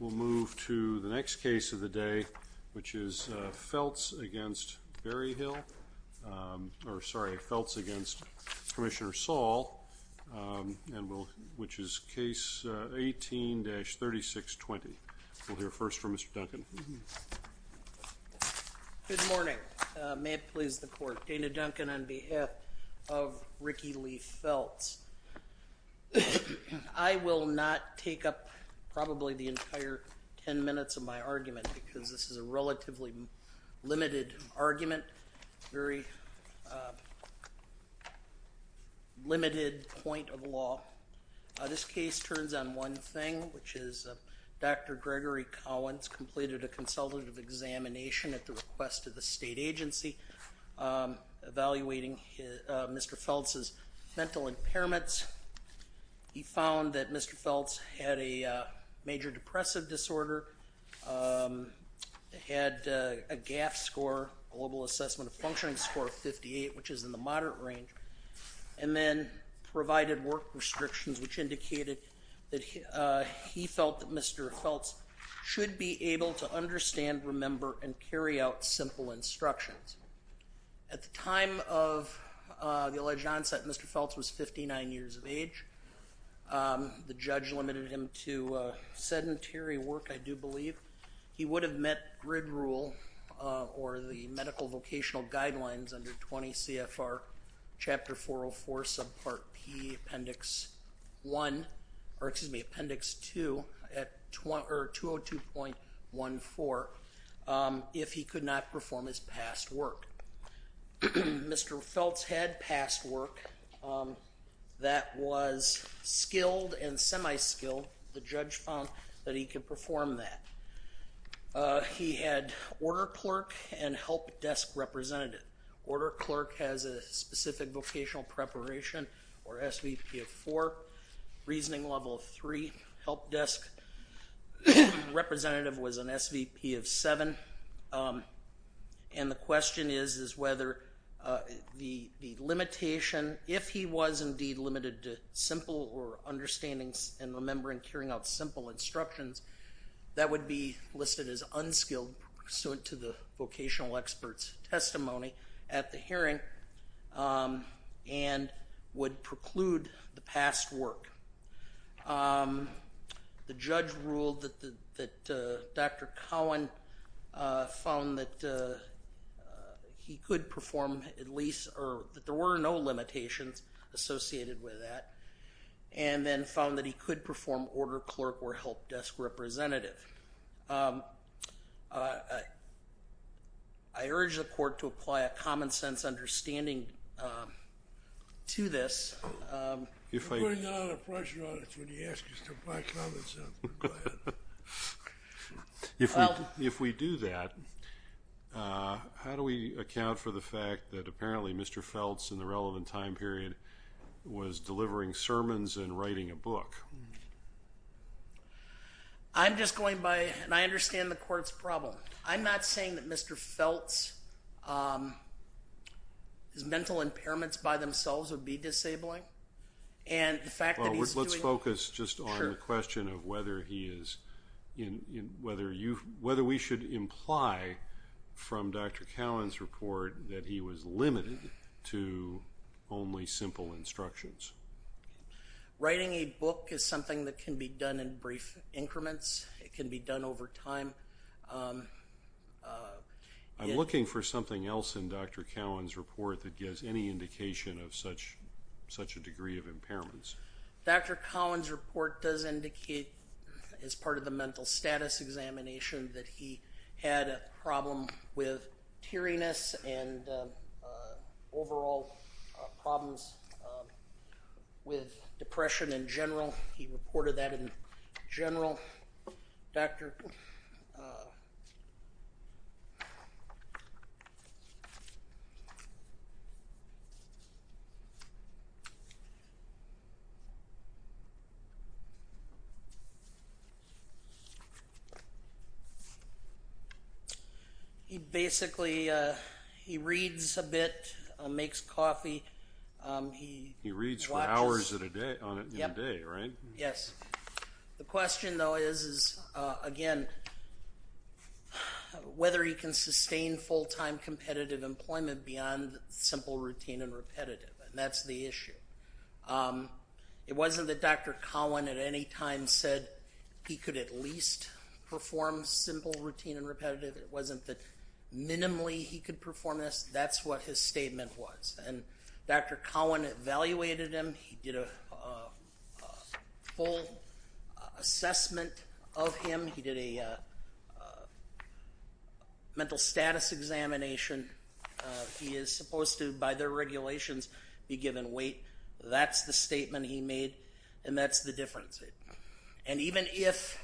We'll move to the next case of the day, which is Felts v. Barry Hill, or sorry, Felts v. Commissioner Saul, which is case 18-3620. We'll hear first from Mr. Duncan. Good morning. May it please the court. Dana Duncan on behalf of Ricky Lee Felts. I will not take up probably the entire ten minutes of my argument, because this is a relatively limited argument, very limited point of law. This case turns on one thing, which is Dr. Gregory Cowens completed a consultative examination at the request of the state agency, evaluating Mr. Felts' mental impairments. He found that Mr. Felts had a major depressive disorder, had a GAF score, Global Assessment of Functioning Score of 58, which is in the moderate range. And then provided work restrictions, which indicated that he felt that Mr. Felts was 59 years of age. The judge limited him to sedentary work, I do believe. He would have met GRID rule or the medical vocational guidelines under 20 CFR chapter 404 subpart P appendix 1, or excuse me, appendix 2 at 202.14 if he could not perform his past work. Mr. Felts had past work that was skilled and semi-skilled. The judge found that he could perform that. He had order clerk and help desk representative. Order clerk has a specific vocational preparation or SVP of four, reasoning level of three, help desk representative was an SVP of seven. And the question is, is whether the limitation, if he was indeed limited to simple or understanding and remembering, carrying out simple instructions, that would be listed as unskilled pursuant to the vocational expert's testimony at the hearing. And would preclude the past work. The judge ruled that Dr. Cowan found that he could perform at least, or that there were no limitations associated with that. And then found that he could perform order clerk or help desk representative. I urge the court to apply a common sense understanding to this. If I- You're putting a lot of pressure on us when you ask us to apply common sense. Go ahead. If we do that, how do we account for the fact that apparently Mr. Felts in the relevant time period was delivering sermons and writing a book? I'm just going by, and I understand the court's problem. I'm not saying that Mr. Felt's impairments by themselves would be disabling. And the fact that he's doing- Let's focus just on the question of whether we should imply from Dr. Cowan's report that he was limited to only simple instructions. Writing a book is something that can be done in brief increments. It can be done over time. I'm looking for something else in Dr. Cowan's report that gives any indication of such a degree of impairments. Dr. Cowan's report does indicate, as part of the mental status examination, that he had a problem with teariness and overall problems with depression in general. He reported that in general. Dr. He basically, he reads a bit, makes coffee. He reads for hours in a day, right? Yes. The question though is, again, whether he can sustain full-time competitive employment beyond simple routine and repetitive, and that's the issue. It wasn't that Dr. Cowan at any time said he could at least perform simple routine and repetitive, it wasn't that minimally he could perform this, that's what his statement was. And Dr. Cowan evaluated him, he did a full assessment of him. He did a mental status examination. He is supposed to, by their regulations, be given weight. That's the statement he made, and that's the difference. And even if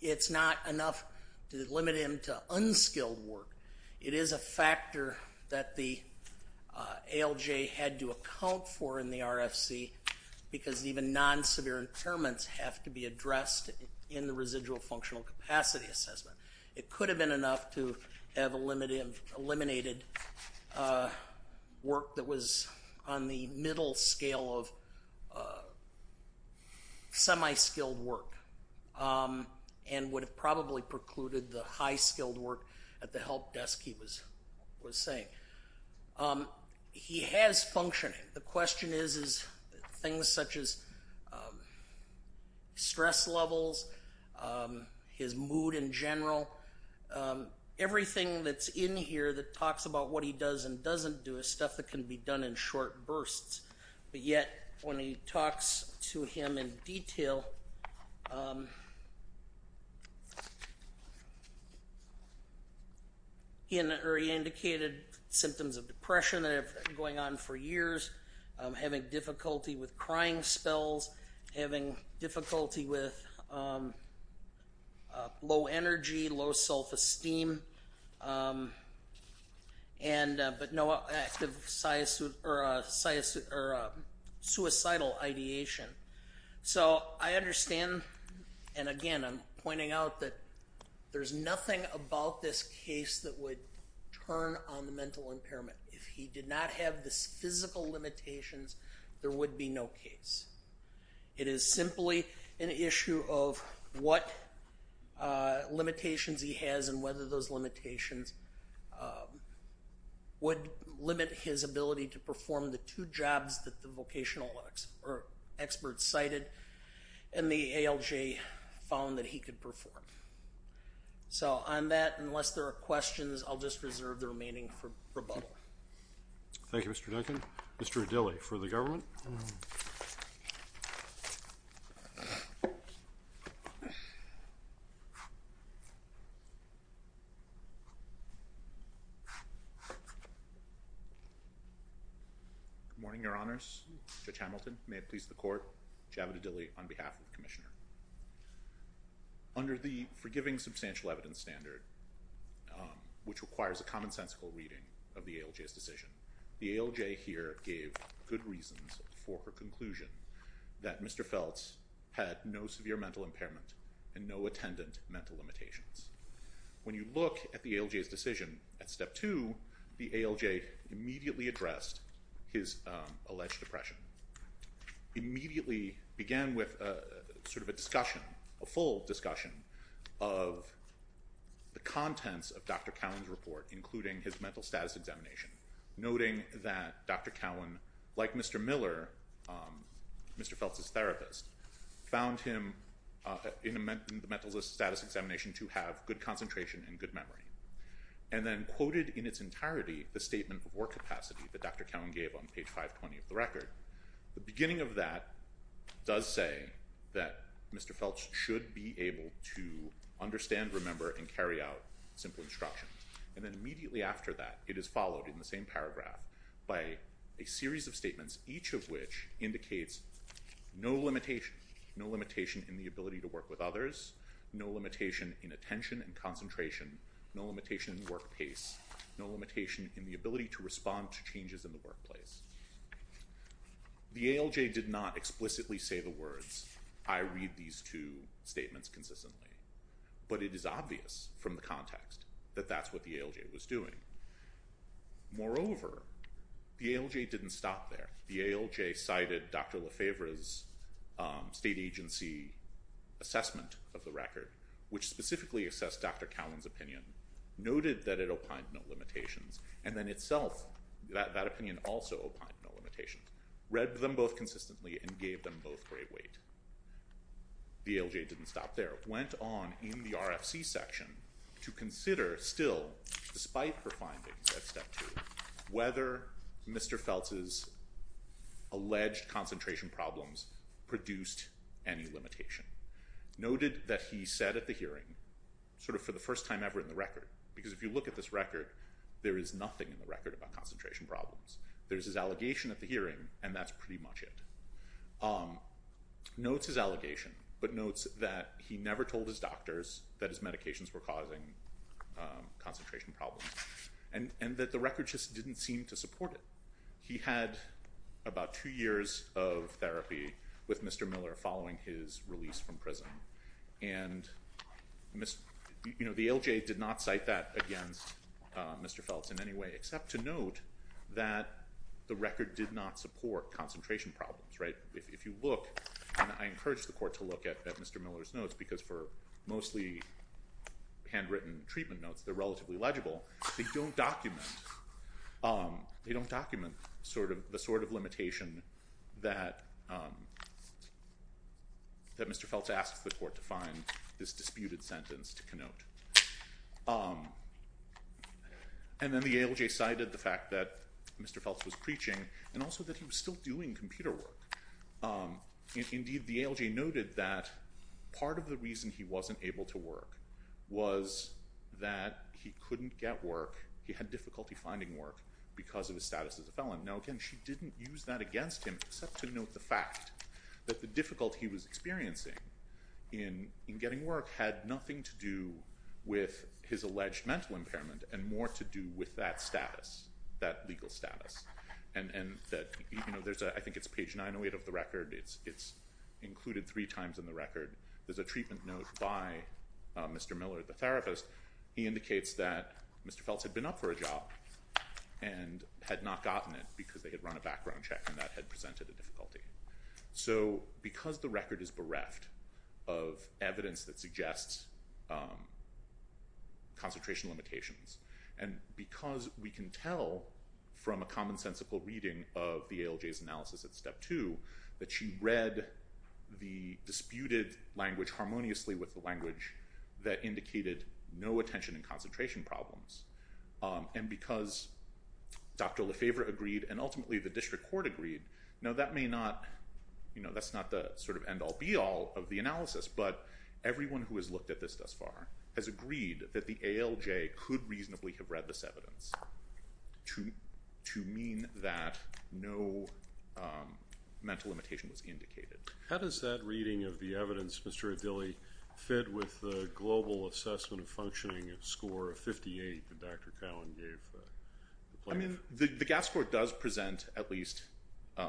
it's not enough to limit him to unskilled work, it is a factor that the ALJ had to account for in the RFC, because even non-severe impairments have to be addressed in the residual functional capacity assessment. It could have been enough to have eliminated work that was on the middle scale of semi-skilled work. And would have probably precluded the high-skilled work at the help desk he was saying. He has functioning. The question is, is things such as stress levels, his mood in general, everything that's in here that talks about what he does and doesn't do is stuff that can be done in short bursts. But yet, when he talks to him in detail, he indicated symptoms of depression that have been going on for years, having difficulty with crying spells, having difficulty with low energy, low self-esteem, but no active suicidal ideation. So I understand, and again, I'm pointing out that there's nothing about this case that would turn on the mental impairment. If he did not have this physical limitations, there would be no case. It is simply an issue of what limitations he has and whether those limitations would limit his ability to perform the two jobs that the vocational experts cited and the ALJ found that he could perform. So on that, unless there are questions, I'll just reserve the remaining for rebuttal. Thank you, Mr. Duncan. Mr. Adili, for the government. Good morning, your honors. Judge Hamilton, may it please the court. Javed Adili on behalf of the commissioner. Under the forgiving substantial evidence standard, which requires a commonsensical reading of the ALJ's decision, the ALJ here gave good reasons for her conclusion that Mr. Feltz had no severe mental impairment and no attendant mental limitations. When you look at the ALJ's decision at step two, the ALJ immediately addressed his alleged depression. Immediately began with sort of a discussion, a full discussion of the contents of Dr. Cowan's report, including his mental status examination. Noting that Dr. Cowan, like Mr. Miller, Mr. Feltz's therapist, found him in the mental status examination to have good concentration and good memory. And then quoted in its entirety the statement of work capacity that Dr. Cowan gave on page 520 of the record. The beginning of that does say that Mr. Feltz should be able to understand, remember, and carry out simple instructions. And then immediately after that, it is followed in the same paragraph by a series of statements, each of which indicates no limitation, no limitation in the ability to work with others, no limitation in attention and concentration, no limitation in work pace, no limitation in the ability to respond to changes in the workplace. The ALJ did not explicitly say the words, I read these two statements consistently. But it is obvious from the context that that's what the ALJ was doing. Moreover, the ALJ didn't stop there. The ALJ cited Dr. Lefebvre's state agency assessment of the record, which specifically assessed Dr. Cowan's opinion, noted that it opined no limitations, and then itself, that opinion also opined no limitations. Read them both consistently and gave them both great weight. The ALJ didn't stop there. Went on in the RFC section to consider still, despite her findings at step two, whether Mr. Feltz's alleged concentration problems produced any limitation. Noted that he said at the hearing, sort of for the first time ever in the record, because if you look at this record, there is nothing in the record about concentration problems. There's his allegation at the hearing, and that's pretty much it. Notes his allegation, but notes that he never told his doctors that his medications were causing concentration problems. And that the record just didn't seem to support it. He had about two years of therapy with Mr. Miller following his release from prison. And, you know, the ALJ did not cite that against Mr. Feltz in any way, except to note that the record did not support concentration problems, right? If you look, and I encourage the court to look at Mr. Miller's notes, because for mostly handwritten treatment notes, they're relatively legible. They don't document the sort of limitation that Mr. Feltz asks the court to find this disputed sentence to connote. And then the ALJ cited the fact that Mr. Feltz was preaching, and also that he was still doing computer work. Indeed, the ALJ noted that part of the reason he wasn't able to work was that he couldn't get work. He had difficulty finding work because of his status as a felon. Now, again, she didn't use that against him, except to note the fact that the difficulty he was experiencing in getting work had nothing to do with his alleged mental impairment, and more to do with that status, that legal status. And that, I think it's page 908 of the record, it's included three times in the record. There's a treatment note by Mr. Miller, the therapist. He indicates that Mr. Feltz had been up for a job and had not gotten it because they had run a background check and that had presented a difficulty. So because the record is bereft of evidence that suggests concentration limitations, and because we can tell from a commonsensical reading of the ALJ's analysis at step two, that she read the disputed language harmoniously with the language that indicated no attention and concentration problems. And because Dr. Lefebvre agreed, and ultimately the district court agreed, now that may not, that's not the sort of end all be all of the analysis, but everyone who has looked at this thus far has agreed that the ALJ could reasonably have read this evidence to mean that no mental limitation was indicated. How does that reading of the evidence, Mr. Adili, fit with the global assessment of functioning of score of 58 that Dr. Cowan gave the plaintiff? I mean, the GAF score does present at least a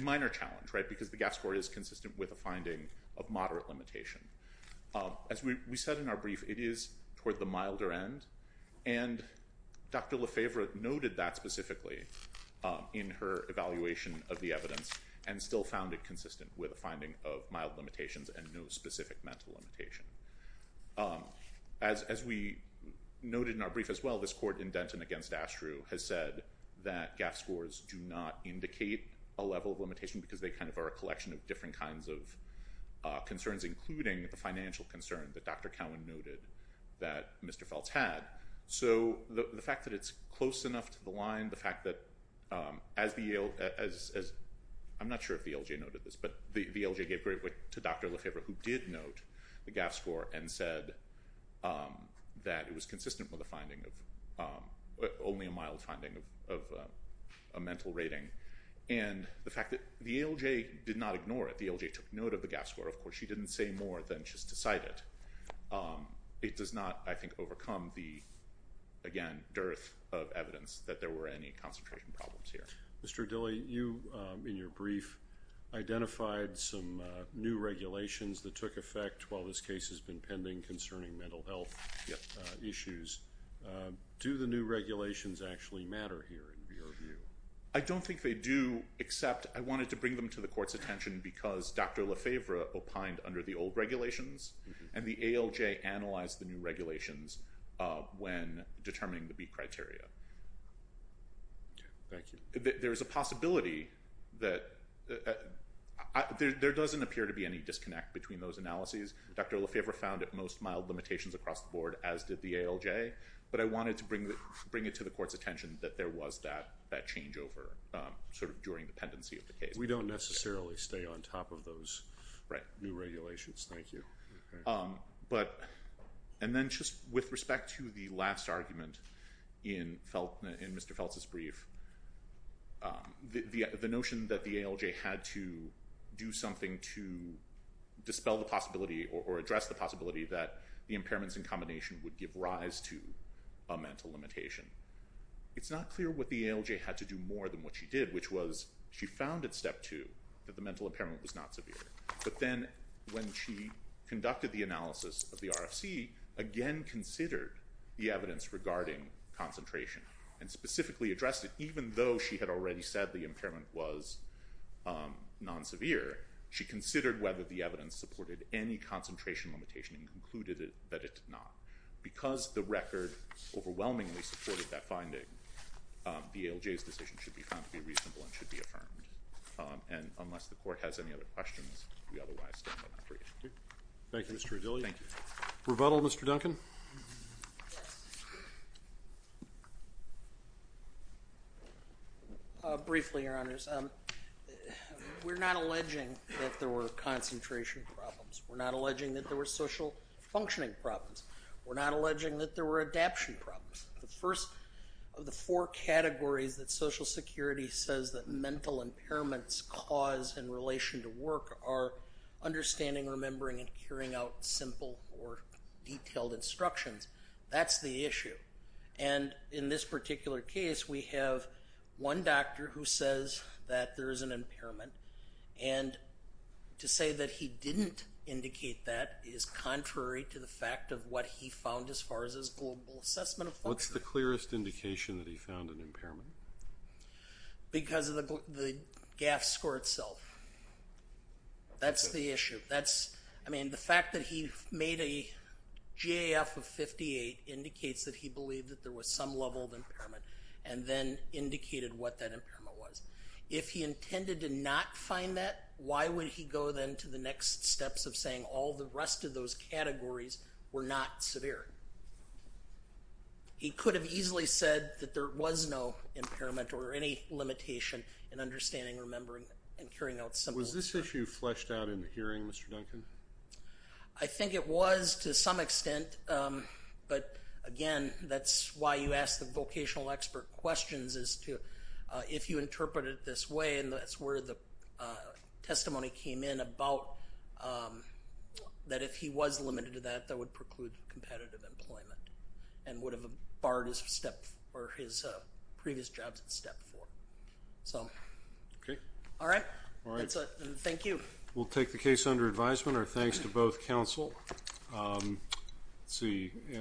minor challenge, right? Because the GAF score is consistent with a finding of moderate limitation. As we said in our brief, it is toward the milder end. And Dr. Lefebvre noted that specifically in her evaluation of the evidence, and still found it consistent with a finding of mild limitations and no specific mental limitation. As we noted in our brief as well, this court in Denton against Astru has said that GAF scores do not indicate a level of limitation, because they kind of are a collection of different kinds of concerns, including the financial concern that Dr. Cowan noted that Mr. Feltz had. So the fact that it's close enough to the line, the fact that as the ALJ, I'm not sure if the ALJ noted this, but the ALJ gave great weight to Dr. Lefebvre, who did note the GAF score and said that it was consistent with a finding of, only a mild finding of a mental rating. And the fact that the ALJ did not ignore it, the ALJ took note of the GAF score. Of course, she didn't say more than she's decided. It does not, I think, overcome the, again, dearth of evidence that there were any concentration problems here. Mr. Dilley, you, in your brief, identified some new regulations that took effect while this case has been pending concerning mental health issues. Do the new regulations actually matter here, in your view? I don't think they do, except I wanted to bring them to the court's attention because Dr. Lefebvre opined under the old regulations, and the ALJ analyzed the new regulations when determining the BEAT criteria. Thank you. There is a possibility that, there doesn't appear to be any disconnect between those analyses. Dr. Lefebvre found it most mild limitations across the board, as did the ALJ, but I wanted to bring it to the court's attention that there was that changeover, sort of during the pendency of the case. We don't necessarily stay on top of those new regulations, thank you. And then, just with respect to the last argument in Mr. Feltz's brief, the notion that the ALJ had to do something to dispel the possibility, or address the possibility that the impairments in combination would give rise to a mental limitation. It's not clear what the ALJ had to do more than what she did, which was, she found at step two that the mental impairment was not severe. But then, when she conducted the analysis of the RFC, again considered the evidence regarding concentration, and specifically addressed it, even though she had already said the impairment was non-severe, she considered whether the evidence supported any concentration limitation, and concluded that it did not. Because the record overwhelmingly supported that finding, the ALJ's decision should be found to be reasonable and should be affirmed. And unless the court has any other questions, we otherwise stand on that brief. Thank you, Mr. O'Dilley. Thank you. Rebuttal, Mr. Duncan? Briefly, Your Honors. We're not alleging that there were concentration problems. We're not alleging that there were social functioning problems. We're not alleging that there were adaption problems. The first of the four categories that Social Security says that mental impairments cause in relation to work are understanding, remembering, and carrying out simple or detailed instructions. That's the issue. And in this particular case, we have one doctor who says that there is an impairment. And to say that he didn't indicate that is contrary to the fact of what he found as far as his global assessment of function. What's the clearest indication that he found an impairment? Because of the GAF score itself. That's the issue. I mean, the fact that he made a GAF of 58 indicates that he believed that there was some level of impairment and then indicated what that impairment was. If he intended to not find that, why would he go then to the next steps of saying all the rest of those categories were not severe? He could have easily said that there was no impairment or any limitation in understanding, remembering, and carrying out simple. Was this issue fleshed out in the hearing, Mr. Duncan? I think it was to some extent. But again, that's why you ask the vocational expert questions is to, if you interpret it this way, and that's where the testimony came in about that if he was limited to that, that would preclude competitive employment and would have barred his previous jobs at step four. So. Okay. All right. That's it. Thank you. We'll take the case under advisement. Our thanks to both counsel.